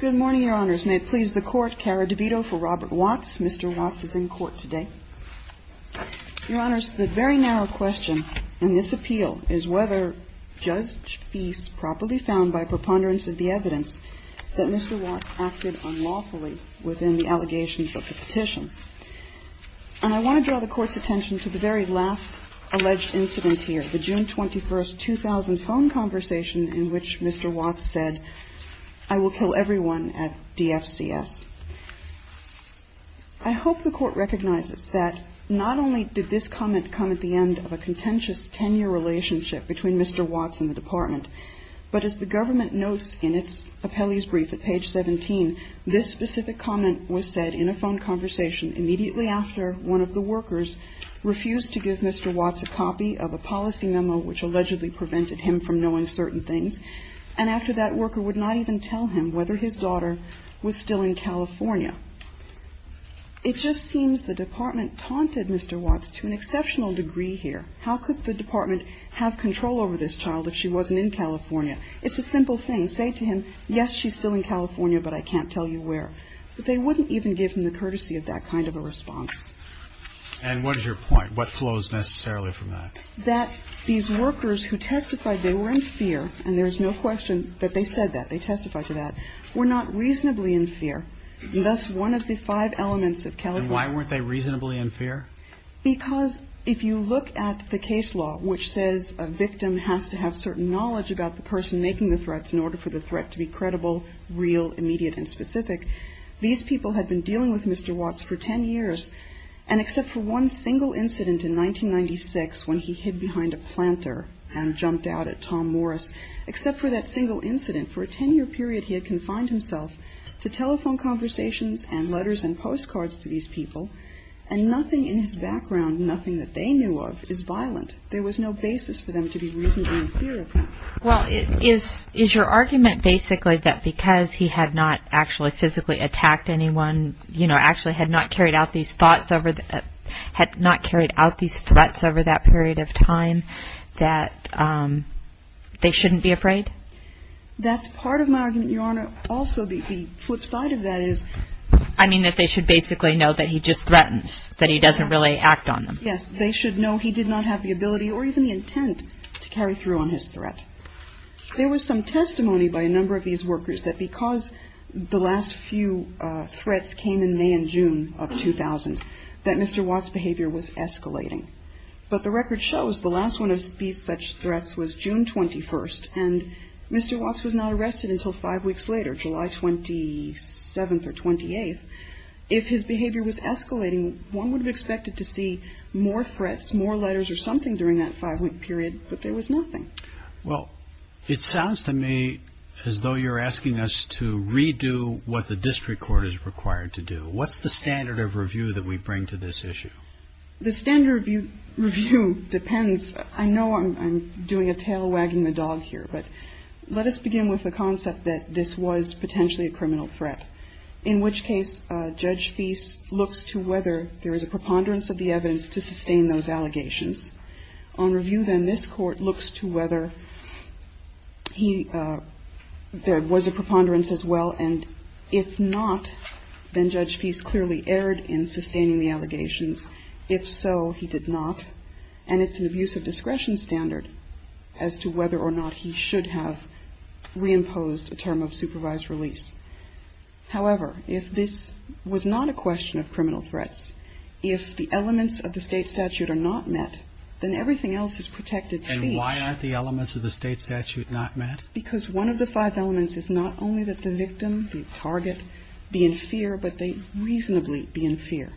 Good morning, Your Honors. May it please the Court, Cara DeVito for Robert Watts. Mr. Watts is in court today. Your Honors, the very narrow question in this appeal is whether Judge Feist properly found by preponderance of the evidence that Mr. Watts acted unlawfully within the allegations of the petition. And I want to draw the Court's attention to the very last alleged incident here, the June 21, 2000 phone conversation in which Mr. Watts said, I will kill everyone at DFCS. I hope the Court recognizes that not only did this comment come at the end of a contentious 10-year relationship between Mr. Watts and the Department, but as the government notes in its appellee's brief at page 17, this specific comment was said in a phone conversation immediately after one of the workers refused to give Mr. Watts a copy of a policy memo which allegedly prevented him from knowing certain things, and after that worker would not even tell him whether his daughter was still in California. It just seems the Department taunted Mr. Watts to an exceptional degree here. How could the Department have control over this child if she wasn't in California? It's a simple thing. Say to him, yes, she's still in California, but I can't tell you where. But they wouldn't even give him the courtesy of that kind of a response. And what is your point? What flows necessarily from that? That these workers who testified they were in fear, and there is no question that they said that, they testified to that, were not reasonably in fear. And thus one of the five elements of California. And why weren't they reasonably in fear? Because if you look at the case law, which says a victim has to have certain knowledge about the person making the threats in order for the threat to be credible, real, immediate and specific, these people had been dealing with Mr. Watts for 10 years, and except for one single incident in 1996 when he hid behind a planter and jumped out at Tom Morris, except for that single incident, for a 10-year period he had confined himself to telephone conversations and letters and postcards to these people, and nothing in his background, nothing that they knew of, is violent. There was no basis for them to be reasonably in fear of him. Well, is your argument basically that because he had not actually physically attacked anyone, you know, actually had not carried out these thoughts over, had not carried out these threats over that period of time, that they shouldn't be afraid? Well, also the flip side of that is... I mean that they should basically know that he just threatens, that he doesn't really act on them. Yes. They should know he did not have the ability or even the intent to carry through on his threat. There was some testimony by a number of these workers that because the last few threats came in May and June of 2000, that Mr. Watts' behavior was escalating. But the record shows the last one of these such threats was June 21st, and Mr. Watts was not arrested until five weeks later, July 27th or 28th. If his behavior was escalating, one would have expected to see more threats, more letters or something during that five-week period, but there was nothing. Well, it sounds to me as though you're asking us to redo what the district court is required to do. What's the standard of review that we bring to this issue? The standard of review depends. I know I'm doing a tail wagging the dog here, but let us begin with the concept that this was potentially a criminal threat. In which case, Judge Feist looks to whether there is a preponderance of the evidence to sustain those allegations. On review, then, this Court looks to whether there was a preponderance as well, and if not, then Judge Feist clearly erred in sustaining the allegations. If so, he did not, and it's an abuse of discretion standard as to whether or not he should have reimposed a term of supervised release. However, if this was not a question of criminal threats, if the elements of the State statute are not met, then everything else is protected. And why aren't the elements of the State statute not met? Because one of the five elements is not only that the victim, the target, be in fear, but they reasonably be in fear.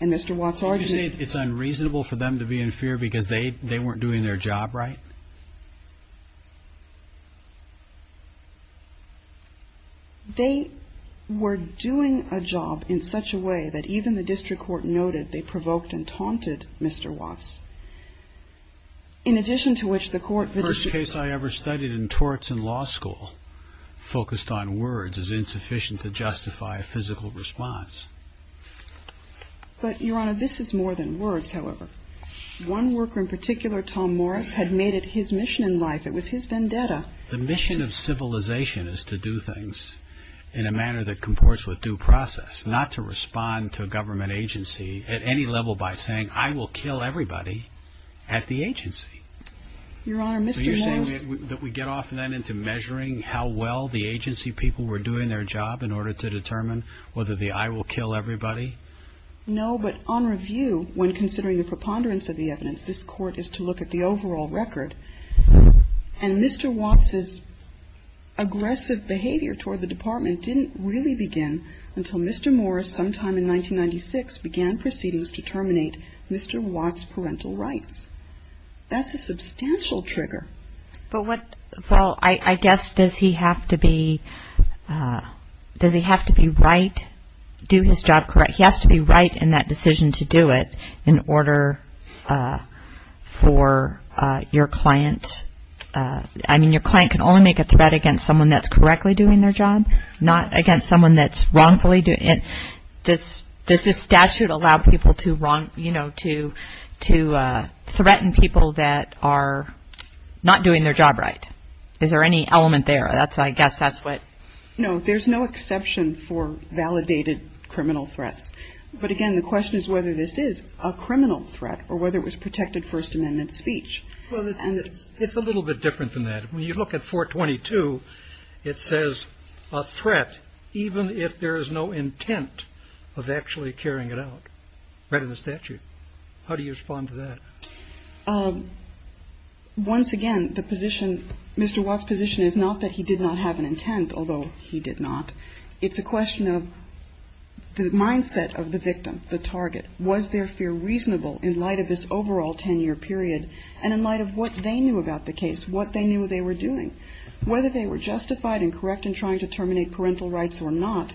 And Mr. Watts' argument... So you're saying it's unreasonable for them to be in fear because they weren't doing their job right? They were doing a job in such a way that even the district court noted they provoked and taunted Mr. Watts. In addition to which, the court... The worst case I ever studied in torts in law school focused on words is insufficient to justify a physical response. But, Your Honor, this is more than words, however. One worker in particular, Tom Morris, had made it his mission in life. It was his vendetta. The mission of civilization is to do things in a manner that comports with due process, not to respond to a government agency at any level by saying I will kill everybody at the agency. Your Honor, Mr. Morris... So you're saying that we get off then into measuring how well the agency people were doing their job in order to determine whether the I will kill everybody? No, but on review, when considering the preponderance of the evidence, this Court is to look at the overall record. And Mr. Watts' aggressive behavior toward the Department didn't really begin until Mr. Morris sometime in 1996 began proceedings to terminate Mr. Watts' parental rights. That's a substantial trigger. But what... Well, I guess does he have to be... Does he have to be right, do his job correct? He has to be right in that decision to do it in order for your client... I mean, your client can only make a threat against someone that's correctly doing their job, not against someone that's wrongfully doing... Does this statute allow people to threaten people that are not doing their job right? Is there any element there? I guess that's what... No, there's no exception for validated criminal threats. But again, the question is whether this is a criminal threat or whether it was protected First Amendment speech. It's a little bit different than that. When you look at 422, it says a threat even if there is no intent of actually carrying it out, right in the statute. How do you respond to that? Once again, the position, Mr. Watts' position is not that he did not have an intent, although he did not. It's a question of the mindset of the victim, the target. Was their fear reasonable in light of this overall 10-year period and in light of what they knew about the case, what they knew they were doing? Whether they were justified and correct in trying to terminate parental rights or not,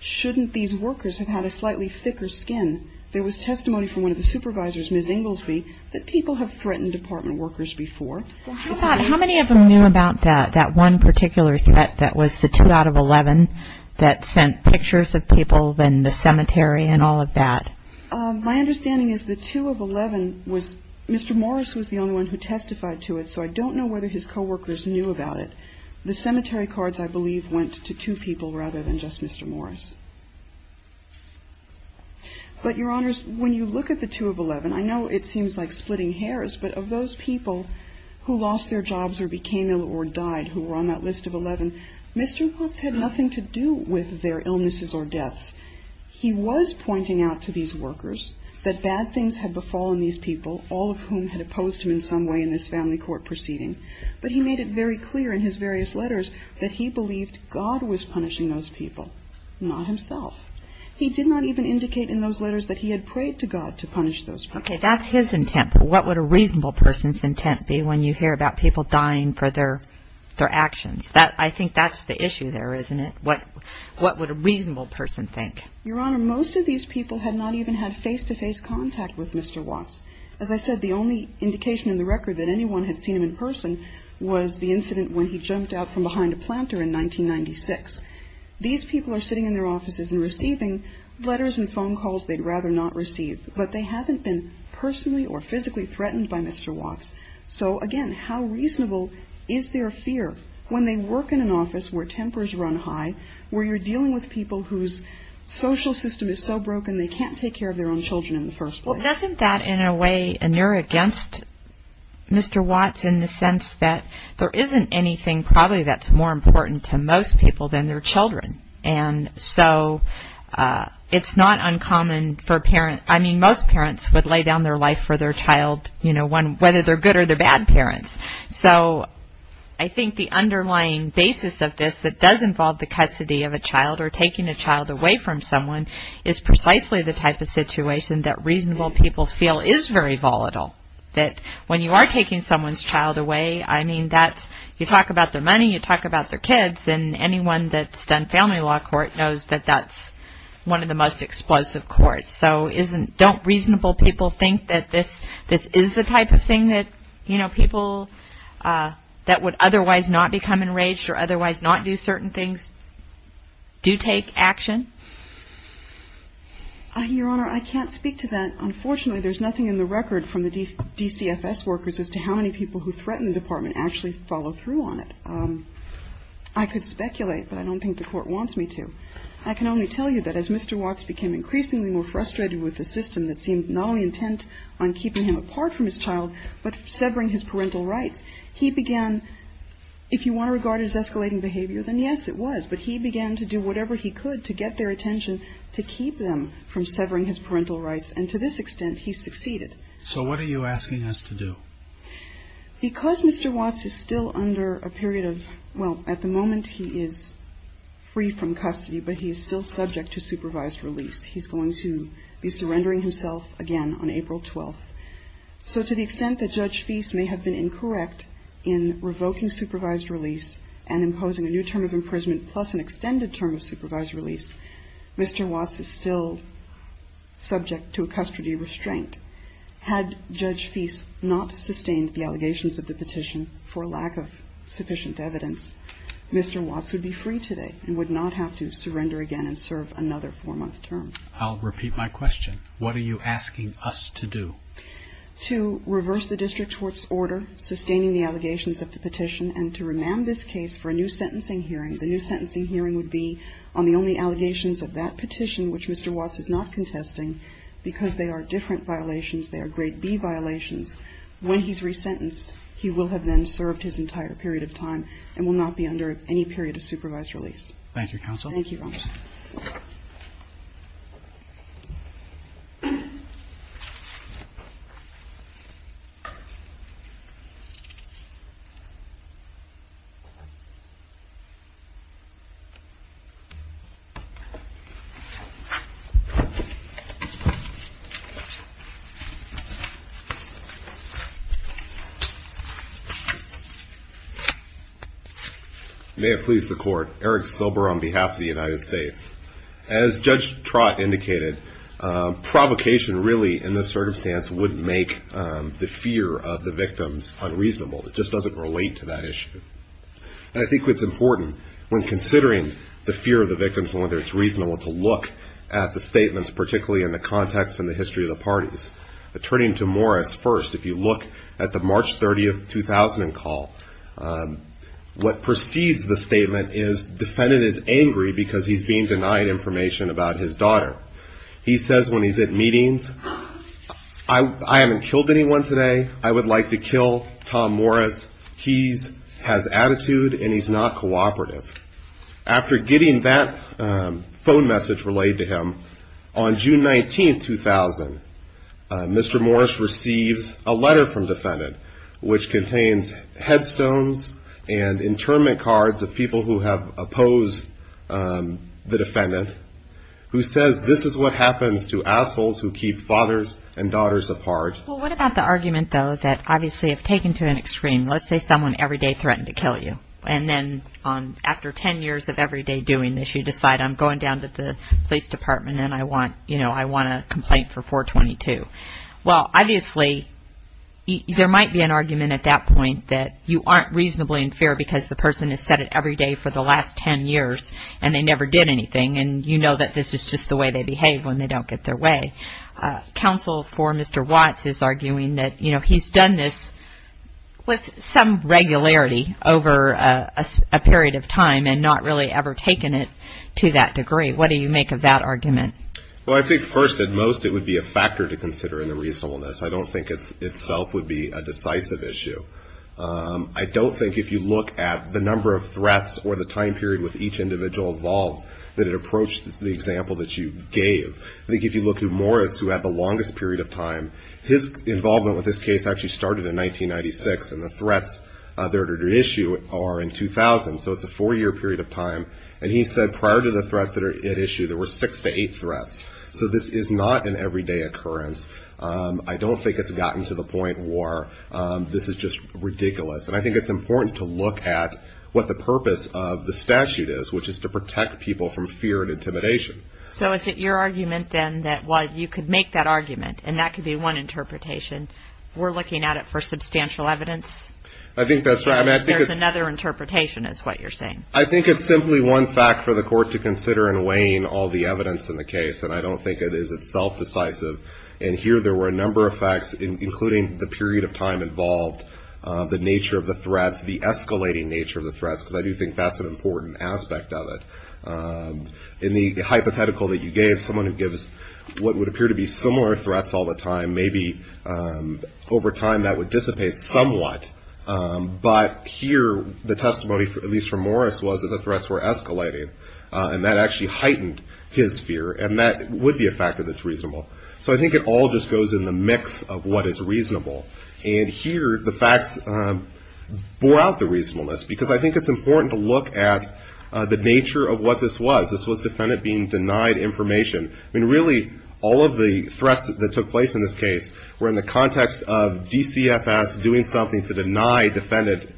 shouldn't these workers have had a slightly thicker skin? There was testimony from one of the supervisors, Ms. Inglesby, that people have threatened department workers before. How many of them knew about that one particular threat that was the 2 out of 11 that sent pictures of people in the cemetery and all of that? My understanding is the 2 of 11 was Mr. Morris was the only one who testified to it, so I don't know whether his coworkers knew about it. The cemetery cards, I believe, went to two people rather than just Mr. Morris. But, Your Honors, when you look at the 2 of 11, I know it seems like splitting hairs, but of those people who lost their jobs or became ill or died who were on that list of 11, Mr. Watts had nothing to do with their illnesses or deaths. He was pointing out to these workers that bad things had befallen these people, all of whom had opposed him in some way in this family court proceeding. But he made it very clear in his various letters that he believed God was punishing those people, not himself. He did not even indicate in those letters that he had prayed to God to punish those people. Okay, that's his intent, but what would a reasonable person's intent be when you hear about people dying for their actions? I think that's the issue there, isn't it? What would a reasonable person think? Your Honor, most of these people had not even had face-to-face contact with Mr. Watts. As I said, the only indication in the record that anyone had seen him in person was the incident when he jumped out from behind a planter in 1996. These people are sitting in their offices and receiving letters and phone calls they'd rather not receive, but they haven't been personally or physically threatened by Mr. Watts. So, again, how reasonable is their fear when they work in an office where tempers run high, where you're dealing with people whose social system is so broken they can't take care of their own children in the first place? Well, doesn't that, in a way, inure against Mr. Watts in the sense that there isn't anything, probably, that's more important to most people than their children? And so it's not uncommon for a parent. I mean, most parents would lay down their life for their child, you know, whether they're good or they're bad parents. So I think the underlying basis of this that does involve the custody of a child or taking a child away from someone is precisely the type of situation that reasonable people feel is very volatile. That when you are taking someone's child away, I mean, you talk about their money, you talk about their kids, and anyone that's done family law court knows that that's one of the most explosive courts. So don't reasonable people think that this is the type of thing that, you know, Your Honor, I can't speak to that. Unfortunately, there's nothing in the record from the DCFS workers as to how many people who threaten the department actually follow through on it. I could speculate, but I don't think the court wants me to. I can only tell you that as Mr. Watts became increasingly more frustrated with the system that seemed not only intent on keeping him apart from his child, but severing his parental rights, he began, if you want to regard it as escalating behavior, then yes, it was. But he began to do whatever he could to get their attention, to keep them from severing his parental rights. And to this extent, he succeeded. So what are you asking us to do? Because Mr. Watts is still under a period of, well, at the moment he is free from custody, but he is still subject to supervised release. He's going to be surrendering himself again on April 12th. So to the extent that Judge Feist may have been incorrect in revoking supervised release and imposing a new term of imprisonment plus an extended term of supervised release, Mr. Watts is still subject to a custody restraint. Had Judge Feist not sustained the allegations of the petition for lack of sufficient evidence, Mr. Watts would be free today and would not have to surrender again and serve another four-month term. I'll repeat my question. What are you asking us to do? To reverse the district court's order sustaining the allegations of the petition and to remand this case for a new sentencing hearing. The new sentencing hearing would be on the only allegations of that petition, which Mr. Watts is not contesting because they are different violations. They are grade B violations. When he's resentenced, he will have then served his entire period of time and will not be under any period of supervised release. Thank you, Counsel. Thank you, Your Honor. May it please the Court. Eric Silber on behalf of the United States. As Judge Trott indicated, provocation really in this circumstance would make the fear of the victims unreasonable. It just doesn't relate to that issue. And I think it's important when considering the fear of the victims and whether it's reasonable to look at the statements, particularly in the context and the history of the parties. Turning to Morris first, if you look at the March 30, 2000 call, what precedes the statement is defendant is angry because he's being denied information about his daughter. He says when he's at meetings, I haven't killed anyone today. I would like to kill Tom Morris. He has attitude and he's not cooperative. After getting that phone message relayed to him, on June 19, 2000, Mr. Morris receives a letter from defendant, which contains headstones and internment cards of people who have opposed the defendant, who says this is what happens to assholes who keep fathers and daughters apart. Well, what about the argument, though, that obviously if taken to an extreme, let's say someone every day threatened to kill you, and then after 10 years of every day doing this, you decide I'm going down to the police department and I want a complaint for 422. Well, obviously, there might be an argument at that point that you aren't reasonably unfair because the person has said it every day for the last 10 years and they never did anything, and you know that this is just the way they behave when they don't get their way. Counsel for Mr. Watts is arguing that he's done this with some regularity over a period of time What do you make of that argument? Well, I think, first and most, it would be a factor to consider in the reasonableness. I don't think itself would be a decisive issue. I don't think if you look at the number of threats or the time period with each individual involved that it approaches the example that you gave. I think if you look at Morris, who had the longest period of time, his involvement with this case actually started in 1996, and the threats that are at issue are in 2000, so it's a 4-year period of time, and he said prior to the threats that are at issue, there were 6-8 threats. So this is not an everyday occurrence. I don't think it's gotten to the point where this is just ridiculous, and I think it's important to look at what the purpose of the statute is, which is to protect people from fear and intimidation. So is it your argument, then, that while you could make that argument, and that could be one interpretation, we're looking at it for substantial evidence? I think that's right. There's another interpretation is what you're saying. I think it's simply one fact for the court to consider in weighing all the evidence in the case, and I don't think it is itself decisive, and here there were a number of facts, including the period of time involved, the nature of the threats, the escalating nature of the threats, because I do think that's an important aspect of it. In the hypothetical that you gave, someone who gives what would appear to be similar threats all the time, maybe over time that would dissipate somewhat, but here the testimony, at least from Morris, was that the threats were escalating, and that actually heightened his fear, and that would be a factor that's reasonable. So I think it all just goes in the mix of what is reasonable, and here the facts bore out the reasonableness, because I think it's important to look at the nature of what this was. This was defendant being denied information. I mean, really, all of the threats that took place in this case were in the context of DCFS doing something to deny defendant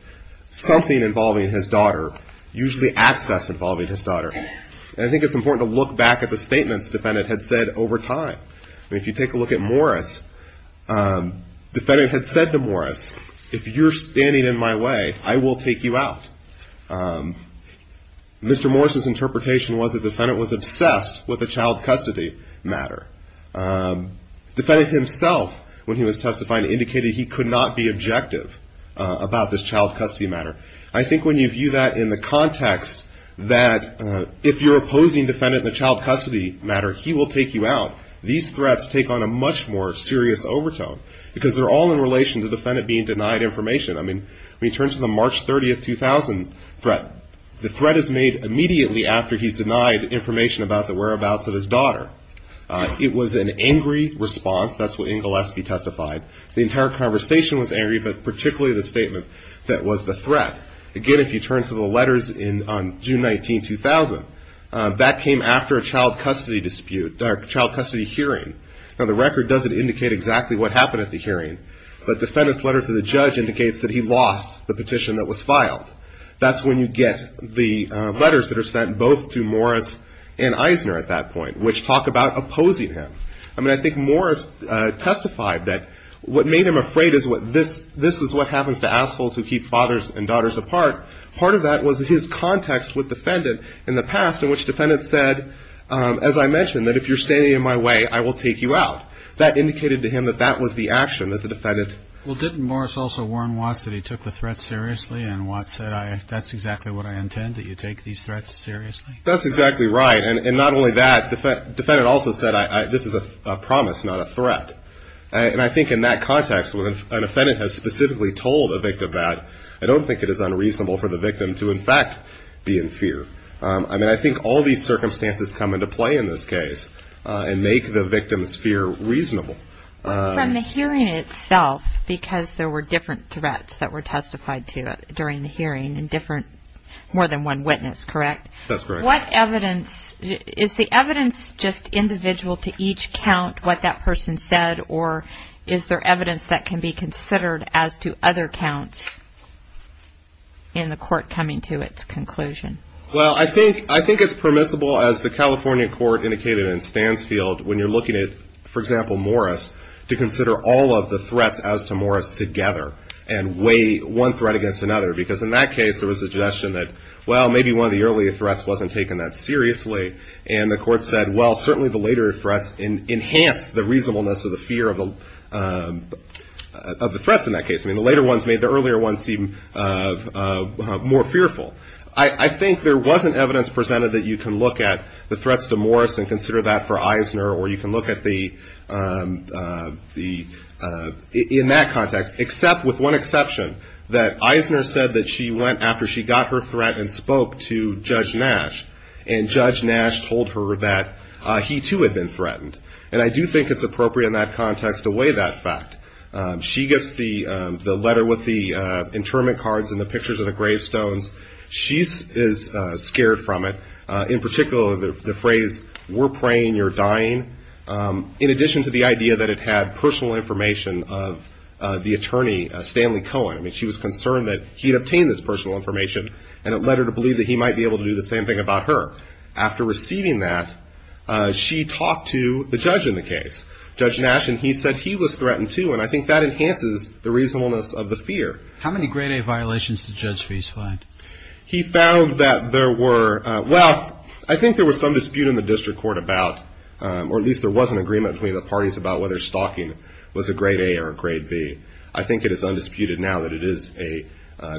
something involving his daughter, usually access involving his daughter, and I think it's important to look back at the statements defendant had said over time. I mean, if you take a look at Morris, defendant had said to Morris, if you're standing in my way, I will take you out. Mr. Morris's interpretation was that defendant was obsessed with the child custody matter. Defendant himself, when he was testifying, indicated he could not be objective about this child custody matter. I think when you view that in the context that if you're opposing defendant in the child custody matter, he will take you out, these threats take on a much more serious overtone, because they're all in relation to defendant being denied information. I mean, when you turn to the March 30, 2000 threat, the threat is made immediately after he's denied information about the whereabouts of his daughter. It was an angry response. That's what Inglesby testified. The entire conversation was angry, but particularly the statement that was the threat. Again, if you turn to the letters on June 19, 2000, that came after a child custody hearing. Now, the record doesn't indicate exactly what happened at the hearing, but defendant's letter to the judge indicates that he lost the petition that was filed. That's when you get the letters that are sent both to Morris and Eisner at that point, which talk about opposing him. I mean, I think Morris testified that what made him afraid is what this, this is what happens to assholes who keep fathers and daughters apart. Part of that was his context with defendant in the past, in which defendant said, as I mentioned, that if you're standing in my way, I will take you out. That indicated to him that that was the action that the defendant... Well, didn't Morris also warn Watts that he took the threat seriously? And Watts said, that's exactly what I intend, that you take these threats seriously. That's exactly right. And not only that, defendant also said, this is a promise, not a threat. And I think in that context, when an offendant has specifically told a victim that, I don't think it is unreasonable for the victim to, in fact, be in fear. I mean, I think all these circumstances come into play in this case and make the victim's fear reasonable. From the hearing itself, because there were different threats that were testified to during the hearing and different, more than one witness, correct? That's correct. What evidence, is the evidence just individual to each count, what that person said, or is there evidence that can be considered as to other counts in the court coming to its conclusion? Well, I think it's permissible, as the California court indicated in Stansfield, when you're looking at, for example, Morris, to consider all of the threats as to Morris together and weigh one threat against another. Because in that case, there was a suggestion that, well, maybe one of the earlier threats wasn't taken that seriously. And the court said, well, certainly the later threats enhanced the reasonableness of the fear of the threats in that case. I mean, the later ones made the earlier ones seem more fearful. I think there wasn't evidence presented that you can look at the threats to Morris and consider that for Eisner, or you can look at the, in that context, except with one exception, that Eisner said that she went after she got her threat and spoke to Judge Nash. And Judge Nash told her that he too had been threatened. And I do think it's appropriate in that context to weigh that fact. She gets the letter with the internment cards and the pictures of the gravestones. She is scared from it. In particular, the phrase, we're praying you're dying. In addition to the idea that it had personal information of the attorney, Stanley Cohen. I mean, she was concerned that he'd obtained this personal information and it led her to believe that he might be able to do the same thing about her. After receiving that, she talked to the judge in the case. Judge Nash, and he said he was threatened too. And I think that enhances the reasonableness of the fear. How many grade A violations did Judge Feees find? He found that there were, well, I think there was some dispute in the district court about, or at least there was an agreement between the parties about whether stalking was a grade A or a grade B. I think it is undisputed now that it is a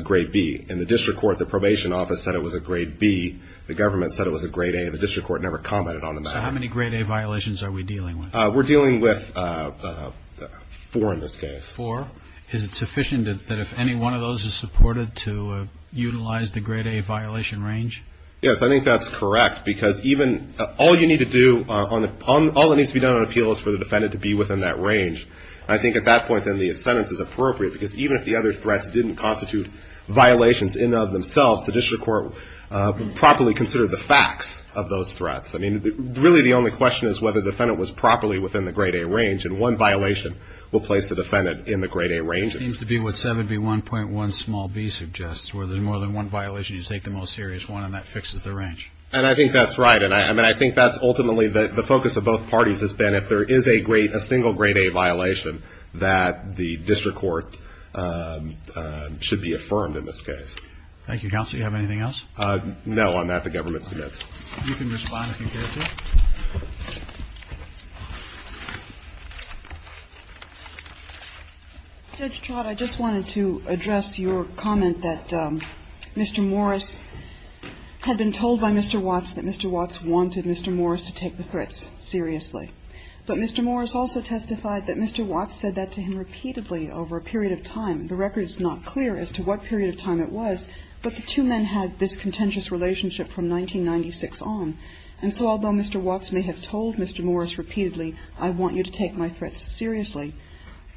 grade B. In the district court, the probation office said it was a grade B. The government said it was a grade A. The district court never commented on the matter. So how many grade A violations are we dealing with? We're dealing with four in this case. Four? Is it sufficient that if any one of those is supported to utilize the grade A violation range? Yes, I think that's correct because even, all you need to do, all that needs to be done on appeal is for the defendant to be within that range. I think at that point then the sentence is appropriate because even if the other threats didn't constitute violations in and of themselves, the district court would properly consider the facts of those threats. Really the only question is whether the defendant was properly within the grade A range and one violation will place the defendant in the grade A range. It seems to be what 71.1b suggests where there's more than one violation, you take the most serious one and that fixes the range. I think that's right. I think that's ultimately the focus of both parties has been if there is a single grade A violation that the district court should be affirmed in this case. Thank you counsel. Do you have anything else? No. On that the government submits. You can respond if you care to. Judge Trott I just wanted to address your comment that Mr. Morris had been told by Mr. Watts that Mr. Watts wanted Mr. Morris to take the threats seriously. But Mr. Morris also testified that Mr. Watts said that to him repeatedly over a period of time. The record is not clear as to what period of time it was. But the two men had this contentious relationship from 1996 on. And so although Mr. Watts may have told Mr. Morris repeatedly I want you to take my threats seriously.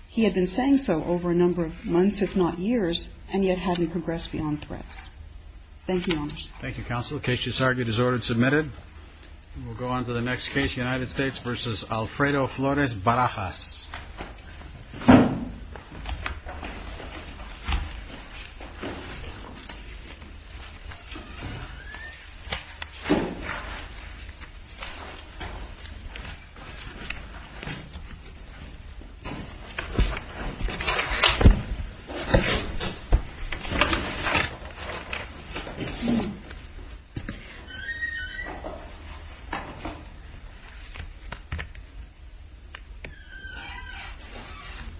He had been saying so over a number of months if not years and yet hadn't progressed beyond threats. Thank you Your Honor. Thank you counsel. The case disargued is ordered and submitted. We'll go on to the next case United States v. Alfredo Flores Barajas. The case is ordered and submitted.